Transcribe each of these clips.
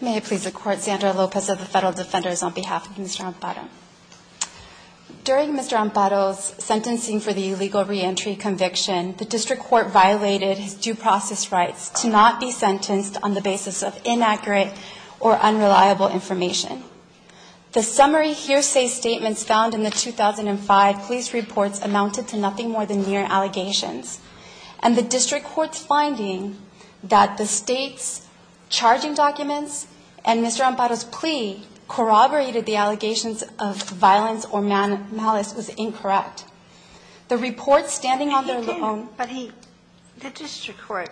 May it please the Court, Zandra Lopez of the Federal Defenders on behalf of Mr. Amparo. During Mr. Amparo's sentencing for the illegal re-entry conviction, the District Court violated his due process rights to not be sentenced on the basis of inaccurate or unreliable information. The summary hearsay statements found in the 2005 police reports amounted to nothing more than mere allegations. And the District Court's finding that the State's charging documents and Mr. Amparo's plea corroborated the allegations of violence or malice was incorrect. The report standing on their own. But he, the District Court,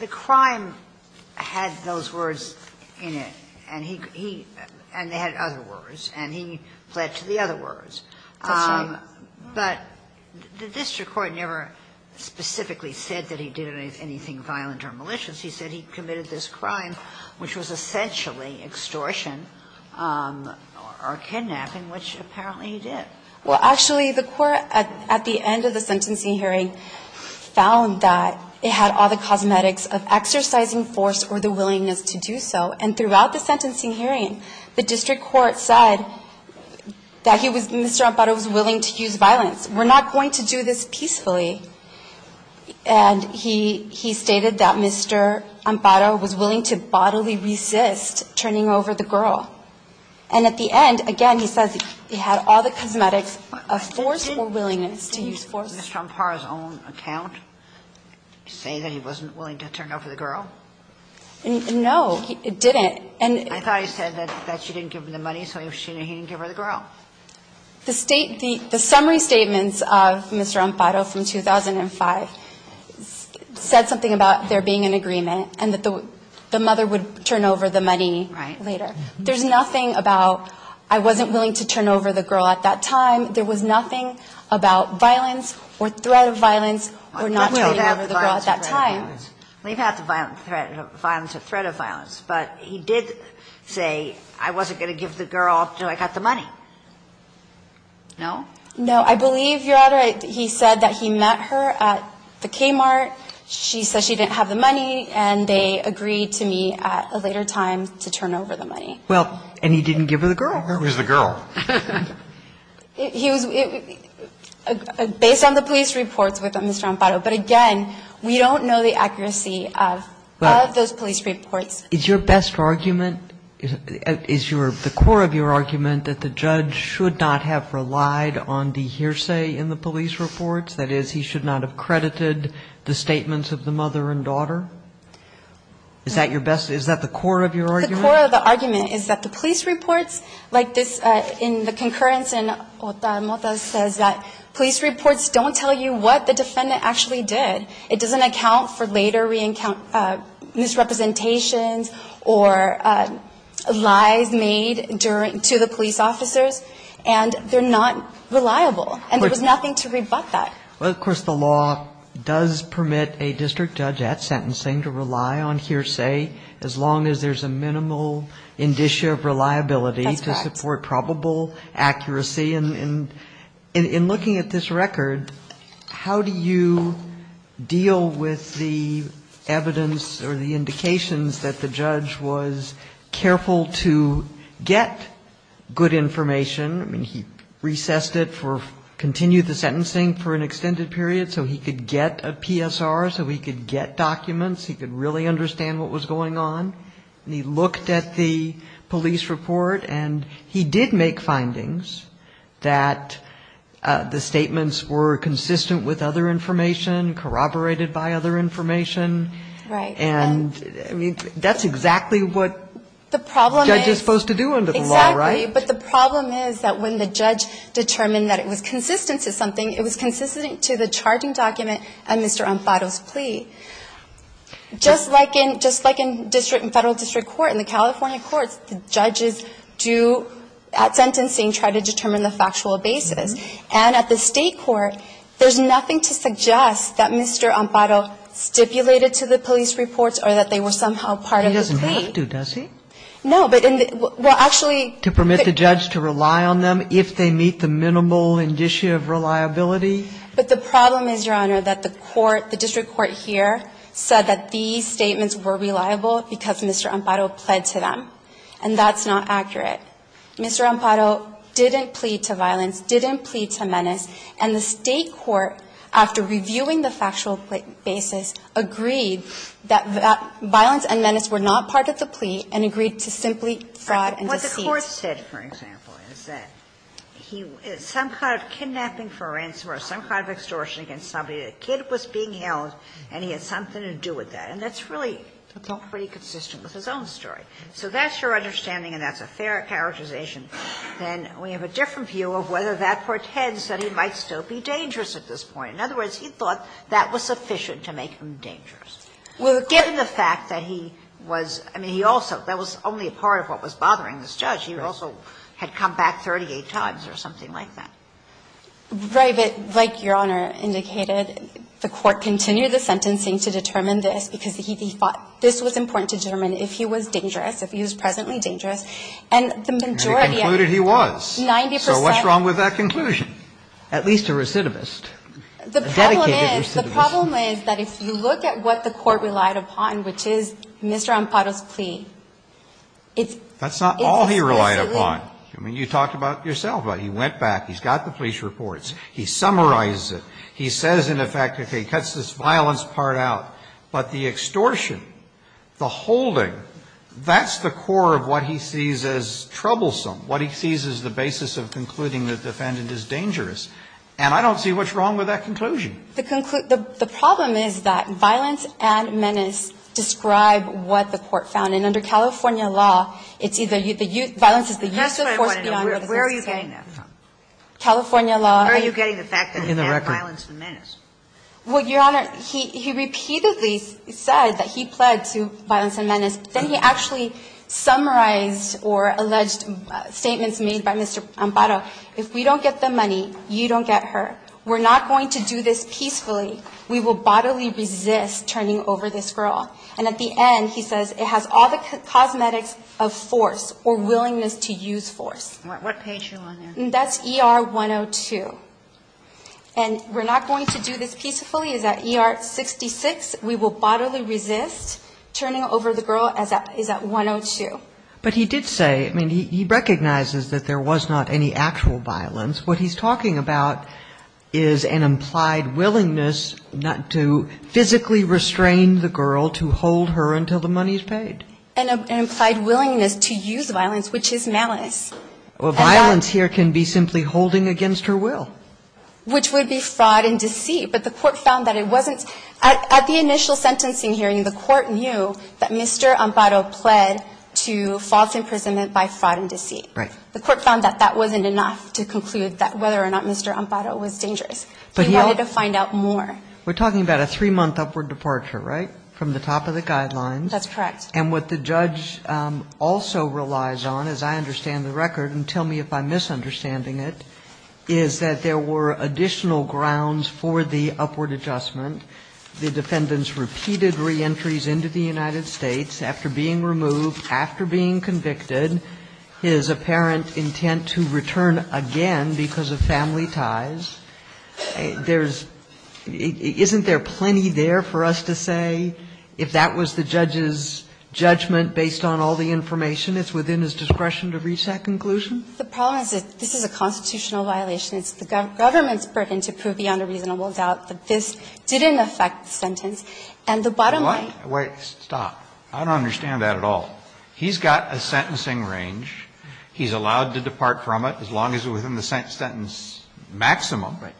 the crime had those words in it, and he, and they had other words, and he fled to the other words. That's right. But the District Court never specifically said that he did anything violent or malicious. He said he committed this crime, which was essentially extortion or kidnapping, which apparently he did. Well, actually, the Court at the end of the sentencing hearing found that it had all the cosmetics of exercising force or the willingness to do so. And throughout the sentencing hearing, the District Court said that he was, Mr. Amparo was willing to use violence. We're not going to do this peacefully. And he stated that Mr. Amparo was willing to bodily resist turning over the girl. And at the end, again, he says he had all the cosmetics of forceful willingness to use force. Did Mr. Amparo's own account say that he wasn't willing to turn over the girl? No. It didn't. I thought he said that she didn't give him the money, so he didn't give her the girl. The summary statements of Mr. Amparo from 2005 said something about there being an agreement and that the mother would turn over the money later. Right. There's nothing about I wasn't willing to turn over the girl at that time. There was nothing about violence or threat of violence or not turning over the girl at that time. We've had the violence or threat of violence. But he did say I wasn't going to give the girl until I got the money. No? No. I believe, Your Honor, he said that he met her at the Kmart. She said she didn't have the money, and they agreed to meet at a later time to turn over the money. Well, and he didn't give her the girl. It was the girl. He was – based on the police reports with Mr. Amparo. But, again, we don't know the accuracy of those police reports. Is your best argument – is the core of your argument that the judge should not have relied on the hearsay in the police reports? That is, he should not have credited the statements of the mother and daughter? Is that your best – is that the core of your argument? The core of the argument is that the police reports, like this in the concurrence says that police reports don't tell you what the defendant actually did. It doesn't account for later misrepresentations or lies made to the police officers, and they're not reliable. And there was nothing to rebut that. Well, of course, the law does permit a district judge at sentencing to rely on hearsay, as long as there's a minimal indicia of reliability to support probable accuracy and in looking at this record, how do you deal with the evidence or the indications that the judge was careful to get good information? I mean, he recessed it for – continued the sentencing for an extended period so he could get a PSR, so he could get documents, he could really understand what was going on. And he looked at the police report, and he did make findings that the statements were consistent with other information, corroborated by other information. Right. And, I mean, that's exactly what the judge is supposed to do under the law, right? Exactly. But the problem is that when the judge determined that it was consistent to something, it was consistent to the charging document and Mr. Ampato's plea. Just like in – just like in district and Federal district court, in the California courts, the judges do, at sentencing, try to determine the factual basis. And at the State court, there's nothing to suggest that Mr. Ampato stipulated to the police reports or that they were somehow part of the plea. He doesn't have to, does he? No, but in the – well, actually – To permit the judge to rely on them if they meet the minimal indicia of reliability? But the problem is, Your Honor, that the court, the district court here, said that these statements were reliable because Mr. Ampato pled to them, and that's not accurate. Mr. Ampato didn't plead to violence, didn't plead to menace. And the State court, after reviewing the factual basis, agreed that violence and menace were not part of the plea and agreed to simply fraud and deceit. What the court said, for example, is that he – some kind of kidnapping for a ransom or some kind of extortion against somebody, the kid was being held and he had something to do with that. And that's really pretty consistent with his own story. So that's your understanding and that's a fair characterization. Then we have a different view of whether that portends that he might still be dangerous at this point. In other words, he thought that was sufficient to make him dangerous. Given the fact that he was – I mean, he also – that was only a part of what was said, that he also had come back 38 times or something like that. Right. But like Your Honor indicated, the court continued the sentencing to determine this because he thought this was important to determine if he was dangerous, if he was presently dangerous. And the majority of – And he concluded he was. 90 percent. So what's wrong with that conclusion? At least a recidivist. A dedicated recidivist. The problem is, the problem is that if you look at what the court relied upon, which is Mr. Ampato's plea, it's – It's exclusively. That's not all he relied upon. I mean, you talked about it yourself. He went back. He's got the police reports. He summarizes it. He says in effect, okay, he cuts this violence part out. But the extortion, the holding, that's the core of what he sees as troublesome, what he sees as the basis of concluding the defendant is dangerous. And I don't see what's wrong with that conclusion. The problem is that violence and menace describe what the court found. And under California law, it's either the youth – violence is the use of force beyond what the substance is carrying. That's what I wanted to know. Where are you getting that from? California law. Where are you getting the fact that he had violence and menace? In the record. Well, Your Honor, he repeatedly said that he pled to violence and menace. Then he actually summarized or alleged statements made by Mr. Ampato. If we don't get the money, you don't get her. We're not going to do this peacefully. We will bodily resist turning over this girl. And at the end, he says it has all the cosmetics of force or willingness to use force. What page are you on there? That's ER 102. And we're not going to do this peacefully. It's at ER 66. We will bodily resist turning over the girl. It's at 102. But he did say, I mean, he recognizes that there was not any actual violence. What he's talking about is an implied willingness not to physically restrain the girl to hold her until the money is paid. An implied willingness to use violence, which is malice. Well, violence here can be simply holding against her will. Which would be fraud and deceit. But the court found that it wasn't. At the initial sentencing hearing, the court knew that Mr. Ampato pled to false imprisonment by fraud and deceit. Right. The court found that that wasn't enough to conclude that whether or not Mr. Ampato was dangerous. But he wanted to find out more. We're talking about a three-month upward departure, right, from the top of the guidelines? That's correct. And what the judge also relies on, as I understand the record, and tell me if I'm misunderstanding it, is that there were additional grounds for the upward adjustment. The defendant's repeated reentries into the United States after being removed, after being convicted, his apparent intent to return again because of family ties. There's – isn't there plenty there for us to say, if that was the judge's judgment based on all the information, it's within his discretion to reach that conclusion? The problem is that this is a constitutional violation. It's the government's burden to prove beyond a reasonable doubt that this didn't affect the sentence. And the bottom line – Wait. Stop. I don't understand that at all. He's got a sentencing range. He's allowed to depart from it as long as it's within the sentence maximum. Right.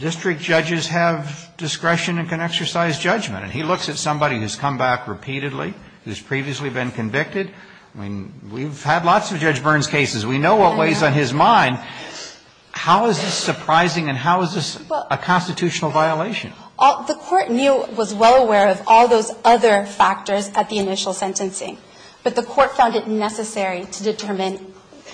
District judges have discretion and can exercise judgment. And he looks at somebody who's come back repeatedly, who's previously been convicted. I mean, we've had lots of Judge Byrne's cases. We know what weighs on his mind. How is this surprising and how is this a constitutional violation? The Court knew – was well aware of all those other factors at the initial sentencing, but the Court found it necessary to determine.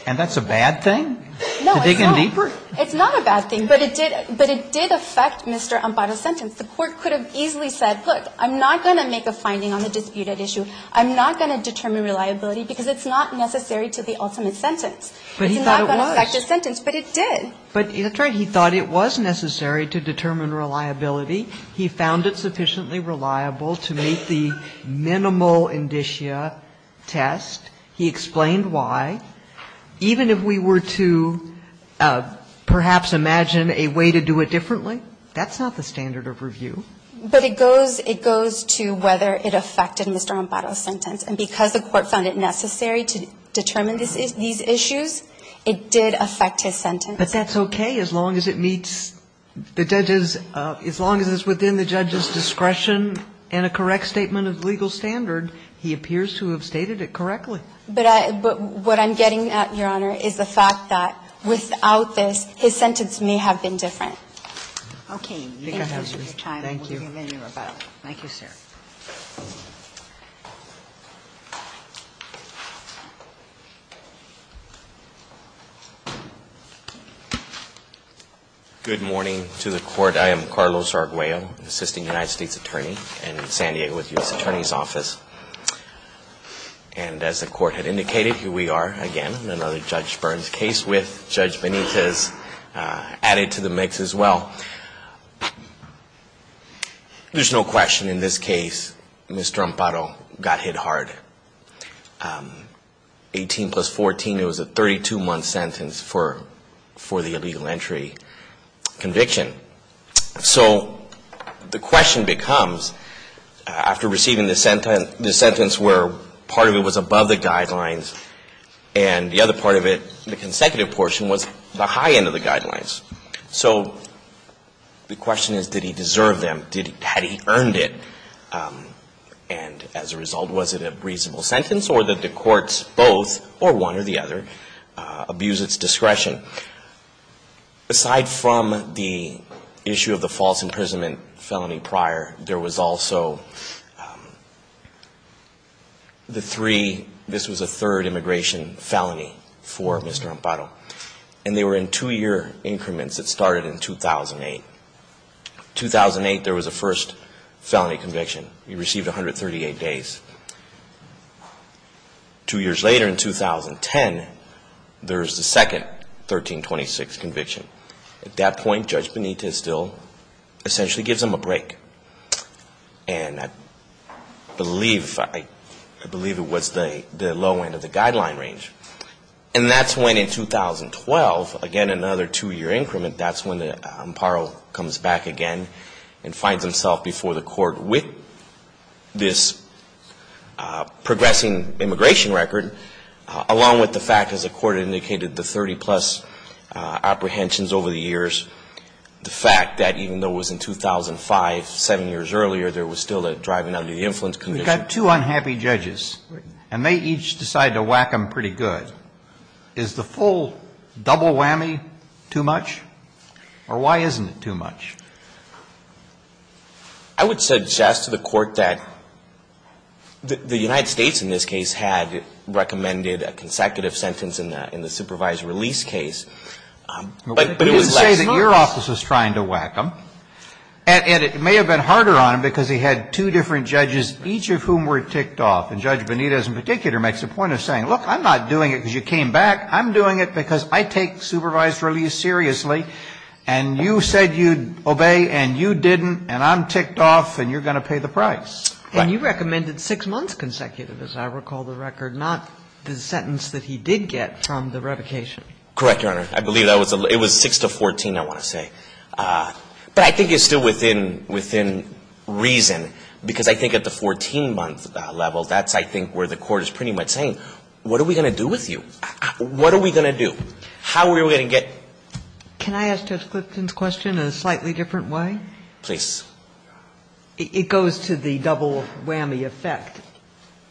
And that's a bad thing? No, it's not. To dig in deeper? It's not a bad thing, but it did – but it did affect Mr. Amparo's sentence. The Court could have easily said, look, I'm not going to make a finding on the disputed issue. I'm not going to determine reliability because it's not necessary to the ultimate sentence. But he thought it was. It's not going to affect his sentence, but it did. But that's right. He thought it was necessary to determine reliability. He found it sufficiently reliable to meet the minimal indicia test. He explained why. Even if we were to perhaps imagine a way to do it differently, that's not the standard of review. But it goes – it goes to whether it affected Mr. Amparo's sentence. And because the Court found it necessary to determine these issues, it did affect his sentence. But that's okay as long as it meets the judge's – as long as it's within the judge's discretion and a correct statement of legal standard. He appears to have stated it correctly. But I – but what I'm getting at, Your Honor, is the fact that without this, his sentence may have been different. Okay. Thank you. Thank you, sir. Thank you. Good morning to the Court. I am Carlos Arguello, Assisting United States Attorney in San Diego with the U.S. Attorney's Office. And as the Court had indicated, here we are again in another Judge Burns case with Judge Benitez added to the mix as well. There's no question in this case, Mr. Amparo got hit hard. 18 plus 14, it was a 32-month sentence for the illegal entry conviction. So the question becomes, after receiving the sentence where part of it was above the guidelines and the other part of it, the consecutive portion, was the high end of the guidelines. So the question is, did he deserve them? Had he earned it? And as a result, was it a reasonable sentence or did the courts both, or one or the other, abuse its discretion? Aside from the issue of the false imprisonment felony prior, there was also the three – this was a third immigration felony for Mr. Amparo. And they were in two-year increments that started in 2008. 2008, there was a first felony conviction. He received 138 days. Two years later in 2010, there's the second 1326 conviction. At that point, Judge Benitez still essentially gives him a break. And I believe it was the low end of the guideline range. And that's when in 2012, again, another two-year increment, that's when Amparo comes back again and finds himself before the Court with this progressing immigration record, along with the fact, as the Court indicated, the 30-plus apprehensions over the years, the fact that even though it was in 2005, seven years earlier, there was still a driving under the influence condition. If you've got two unhappy judges, and they each decide to whack them pretty good, is the full double whammy too much? Or why isn't it too much? I would suggest to the Court that the United States in this case had recommended a consecutive sentence in the supervised release case, but it was less notice. But you would say that your office was trying to whack them, and it may have been one or two judges, each of whom were ticked off. And Judge Benitez in particular makes a point of saying, look, I'm not doing it because you came back. I'm doing it because I take supervised release seriously. And you said you'd obey, and you didn't, and I'm ticked off, and you're going to pay the price. And you recommended six months consecutive, as I recall the record, not the sentence that he did get from the revocation. Correct, Your Honor. I believe it was 6 to 14, I want to say. But I think it's still within reason, because I think at the 14-month level, that's I think where the Court is pretty much saying, what are we going to do with you? What are we going to do? How are we going to get? Can I ask Judge Clifton's question in a slightly different way? Please. It goes to the double whammy effect.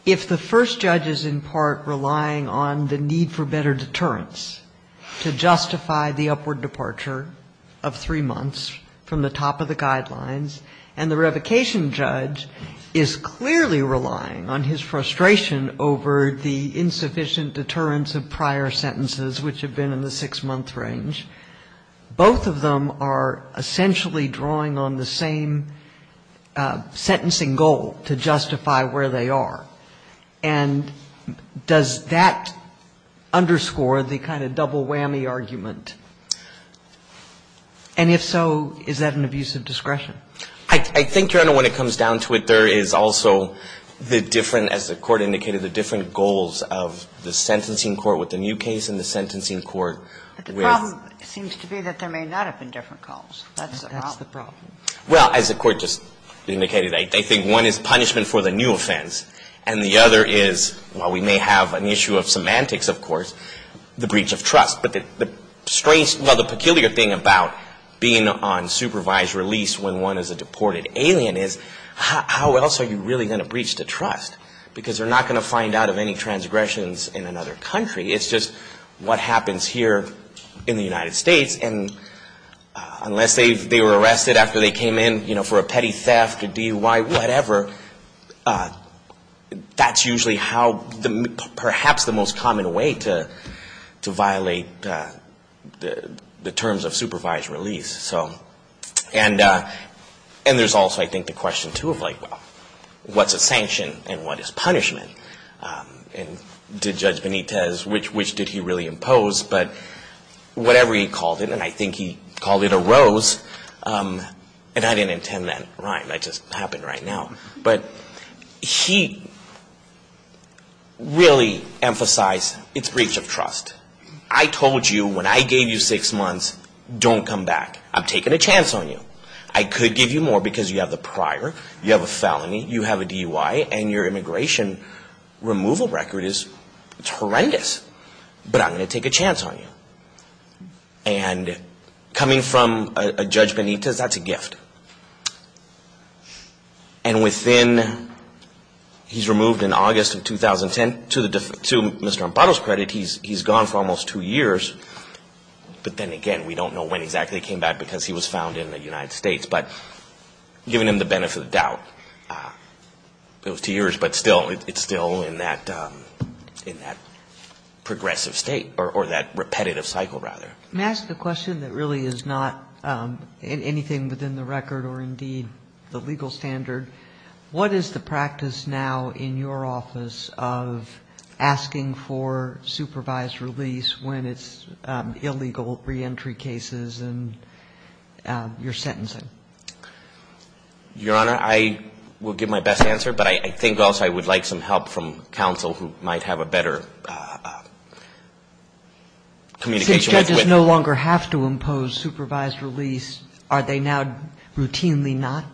If the first judge is in part relying on the need for better deterrence to justify the upward departure of three months from the top of the guidelines, and the revocation judge is clearly relying on his frustration over the insufficient deterrence of prior sentences, which have been in the six-month range, both of them are essentially drawing on the same sentencing goal to justify where they are. And does that underscore the kind of double whammy argument? And if so, is that an abuse of discretion? I think, Your Honor, when it comes down to it, there is also the different, as the Court indicated, the different goals of the sentencing court with the new case and the sentencing court with the new case. But the problem seems to be that there may not have been different calls. That's the problem. That's the problem. Well, as the Court just indicated, I think one is punishment for the new offense. And the other is, while we may have an issue of semantics, of course, the breach of trust. But the strange, well, the peculiar thing about being on supervised release when one is a deported alien is how else are you really going to breach the trust? Because they're not going to find out of any transgressions in another country. It's just what happens here in the United States. And unless they were arrested after they came in, you know, for a petty theft, a DUI, whatever, that's usually how perhaps the most common way to violate the terms of supervised release. And there's also, I think, the question, too, of like, well, what's a sanction and what is punishment? And did Judge Benitez, which did he really impose? But whatever he called it, and I think he called it a rose, and I didn't intend that rhyme. That just happened right now. But he really emphasized it's breach of trust. I told you when I gave you six months, don't come back. I'm taking a chance on you. I could give you more because you have the prior, you have a felony, you have a DUI, and your immigration removal record is horrendous. But I'm going to take a chance on you. And coming from a Judge Benitez, that's a gift. And within, he's removed in August of 2010. To Mr. Amparo's credit, he's gone for almost two years. But then again, we don't know when exactly he came back because he was found in the United States. But given him the benefit of the doubt, it was two years. But still, it's still in that progressive state, or that repetitive cycle, rather. Let me ask a question that really is not anything within the record or indeed the legal standard. What is the practice now in your office of asking for supervised release when it's illegal reentry cases and you're sentencing? Your Honor, I will give my best answer. But I think also I would like some help from counsel who might have a better communication. Since judges no longer have to impose supervised release, are they now routinely not?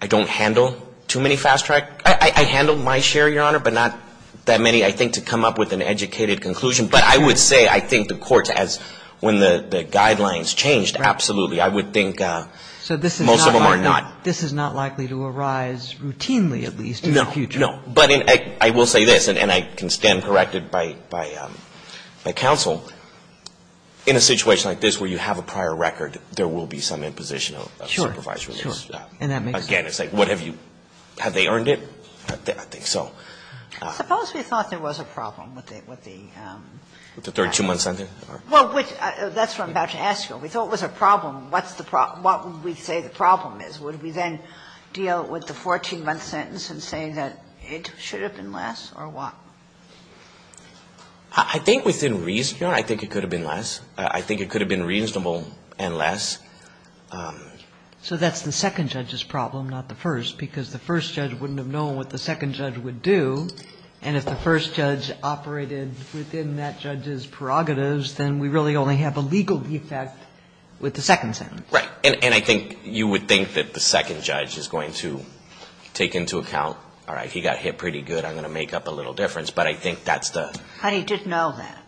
I don't handle too many fast track. I handle my share, Your Honor, but not that many I think to come up with an educated conclusion. But I would say I think the courts, as when the guidelines changed, absolutely. I would think most of them are not. So this is not likely to arise routinely at least in the future? No. No. But I will say this, and I can stand corrected by counsel. In a situation like this where you have a prior record, there will be some imposition of supervised release. Sure. Sure. And that makes sense. Again, it's like what have you — have they earned it? I think so. Suppose we thought there was a problem with the — With the 32-month sentence? Well, that's what I'm about to ask you. We thought it was a problem. What's the problem? What would we say the problem is? Would we then deal with the 14-month sentence and say that it should have been less or what? I think within reason, Your Honor, I think it could have been less. I think it could have been reasonable and less. So that's the second judge's problem, not the first, because the first judge wouldn't have known what the second judge would do. And if the first judge operated within that judge's prerogatives, then we really would only have a legal defect with the second sentence. Right. And I think you would think that the second judge is going to take into account, all right, he got hit pretty good, I'm going to make up a little difference, but I think that's the — But he didn't know that.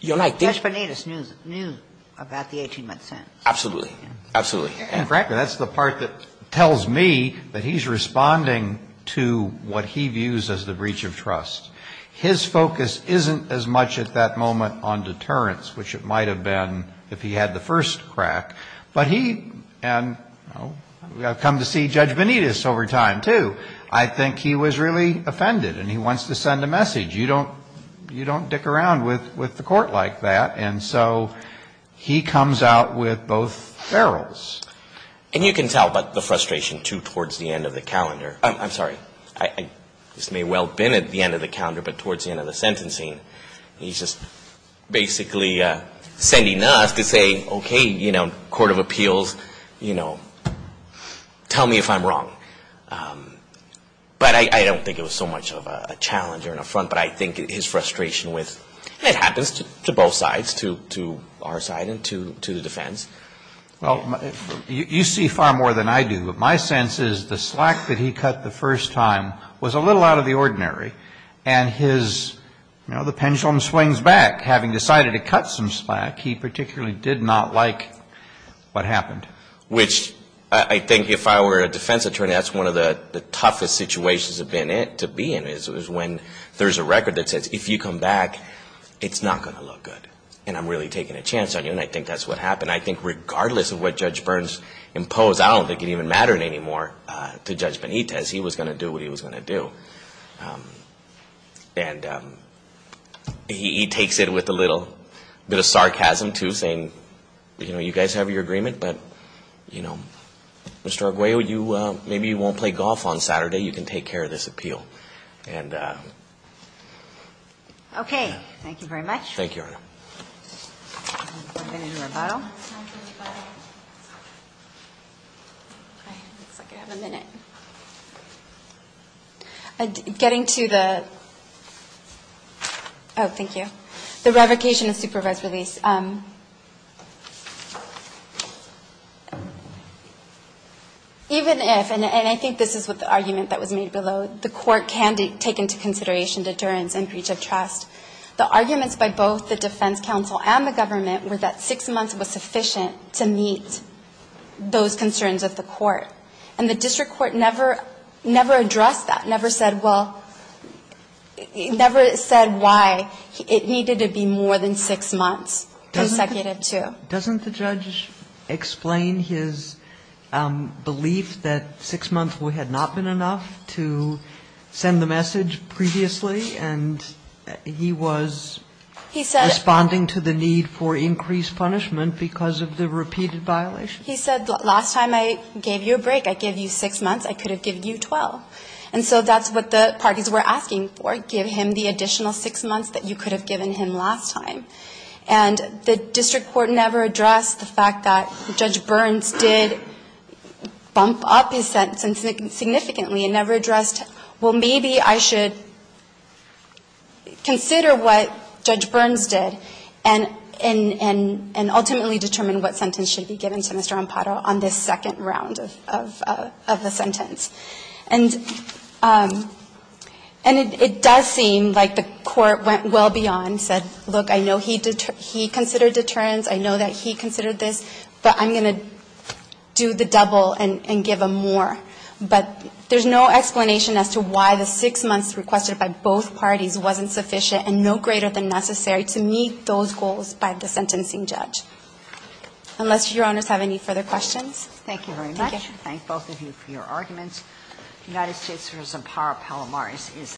Your Honor, I think — Judge Bonetus knew about the 18-month sentence. Absolutely. Absolutely. And frankly, that's the part that tells me that he's responding to what he views as the breach of trust. His focus isn't as much at that moment on deterrence, which it might have been if he had the first crack. But he — and I've come to see Judge Bonetus over time, too. I think he was really offended, and he wants to send a message. You don't — you don't dick around with the Court like that. And so he comes out with both ferrules. And you can tell by the frustration, too, towards the end of the calendar. I'm sorry. I just may well have been at the end of the calendar, but towards the end of the sentencing, he's just basically sending us to say, okay, you know, court of appeals, you know, tell me if I'm wrong. But I don't think it was so much of a challenge or an affront, but I think his frustration with — and it happens to both sides, to our side and to the defense. Well, you see far more than I do. But my sense is the slack that he cut the first time was a little out of the ordinary, and his — you know, the pendulum swings back. Having decided to cut some slack, he particularly did not like what happened. Which I think if I were a defense attorney, that's one of the toughest situations to be in, is when there's a record that says if you come back, it's not going to look good, and I'm really taking a chance on you, and I think that's what happened. And I think regardless of what Judge Burns imposed, I don't think it even mattered anymore to Judge Benitez. He was going to do what he was going to do. And he takes it with a little bit of sarcasm, too, saying, you know, you guys have your agreement, but, you know, Mr. Arguello, maybe you won't play golf on Saturday. You can take care of this appeal. Okay. Thank you very much. Thank you, Your Honor. Any rebuttal? Looks like I have a minute. Getting to the — oh, thank you. The revocation of supervised release. Even if, and I think this is what the argument that was made below, the court can take into consideration deterrence and breach of trust, the arguments by both the defense counsel and the government were that six months was sufficient to meet those concerns of the court. And the district court never addressed that, never said why it needed to be more than six months consecutive, too. Doesn't the judge explain his belief that six months had not been enough to send the message previously, and he was responding to the need for increased punishment because of the repeated violations? He said, last time I gave you a break, I gave you six months. I could have given you 12. And so that's what the parties were asking for, give him the additional six months that you could have given him last time. And the district court never addressed the fact that Judge Burns did bump up his sentence significantly, and never addressed, well, maybe I should consider what Judge Burns did and ultimately determine what sentence should be given to Mr. Amparo on this second round of the sentence. And it does seem like the court went well beyond, said, look, I know he considered deterrence, I know that he considered this, but I'm going to do the double and give him more. But there's no explanation as to why the six months requested by both parties wasn't sufficient and no greater than necessary to meet those goals by the sentencing judge. Unless Your Honors have any further questions. Thank you very much. I thank both of you for your arguments. The United States v. Amparo-Palomaris is.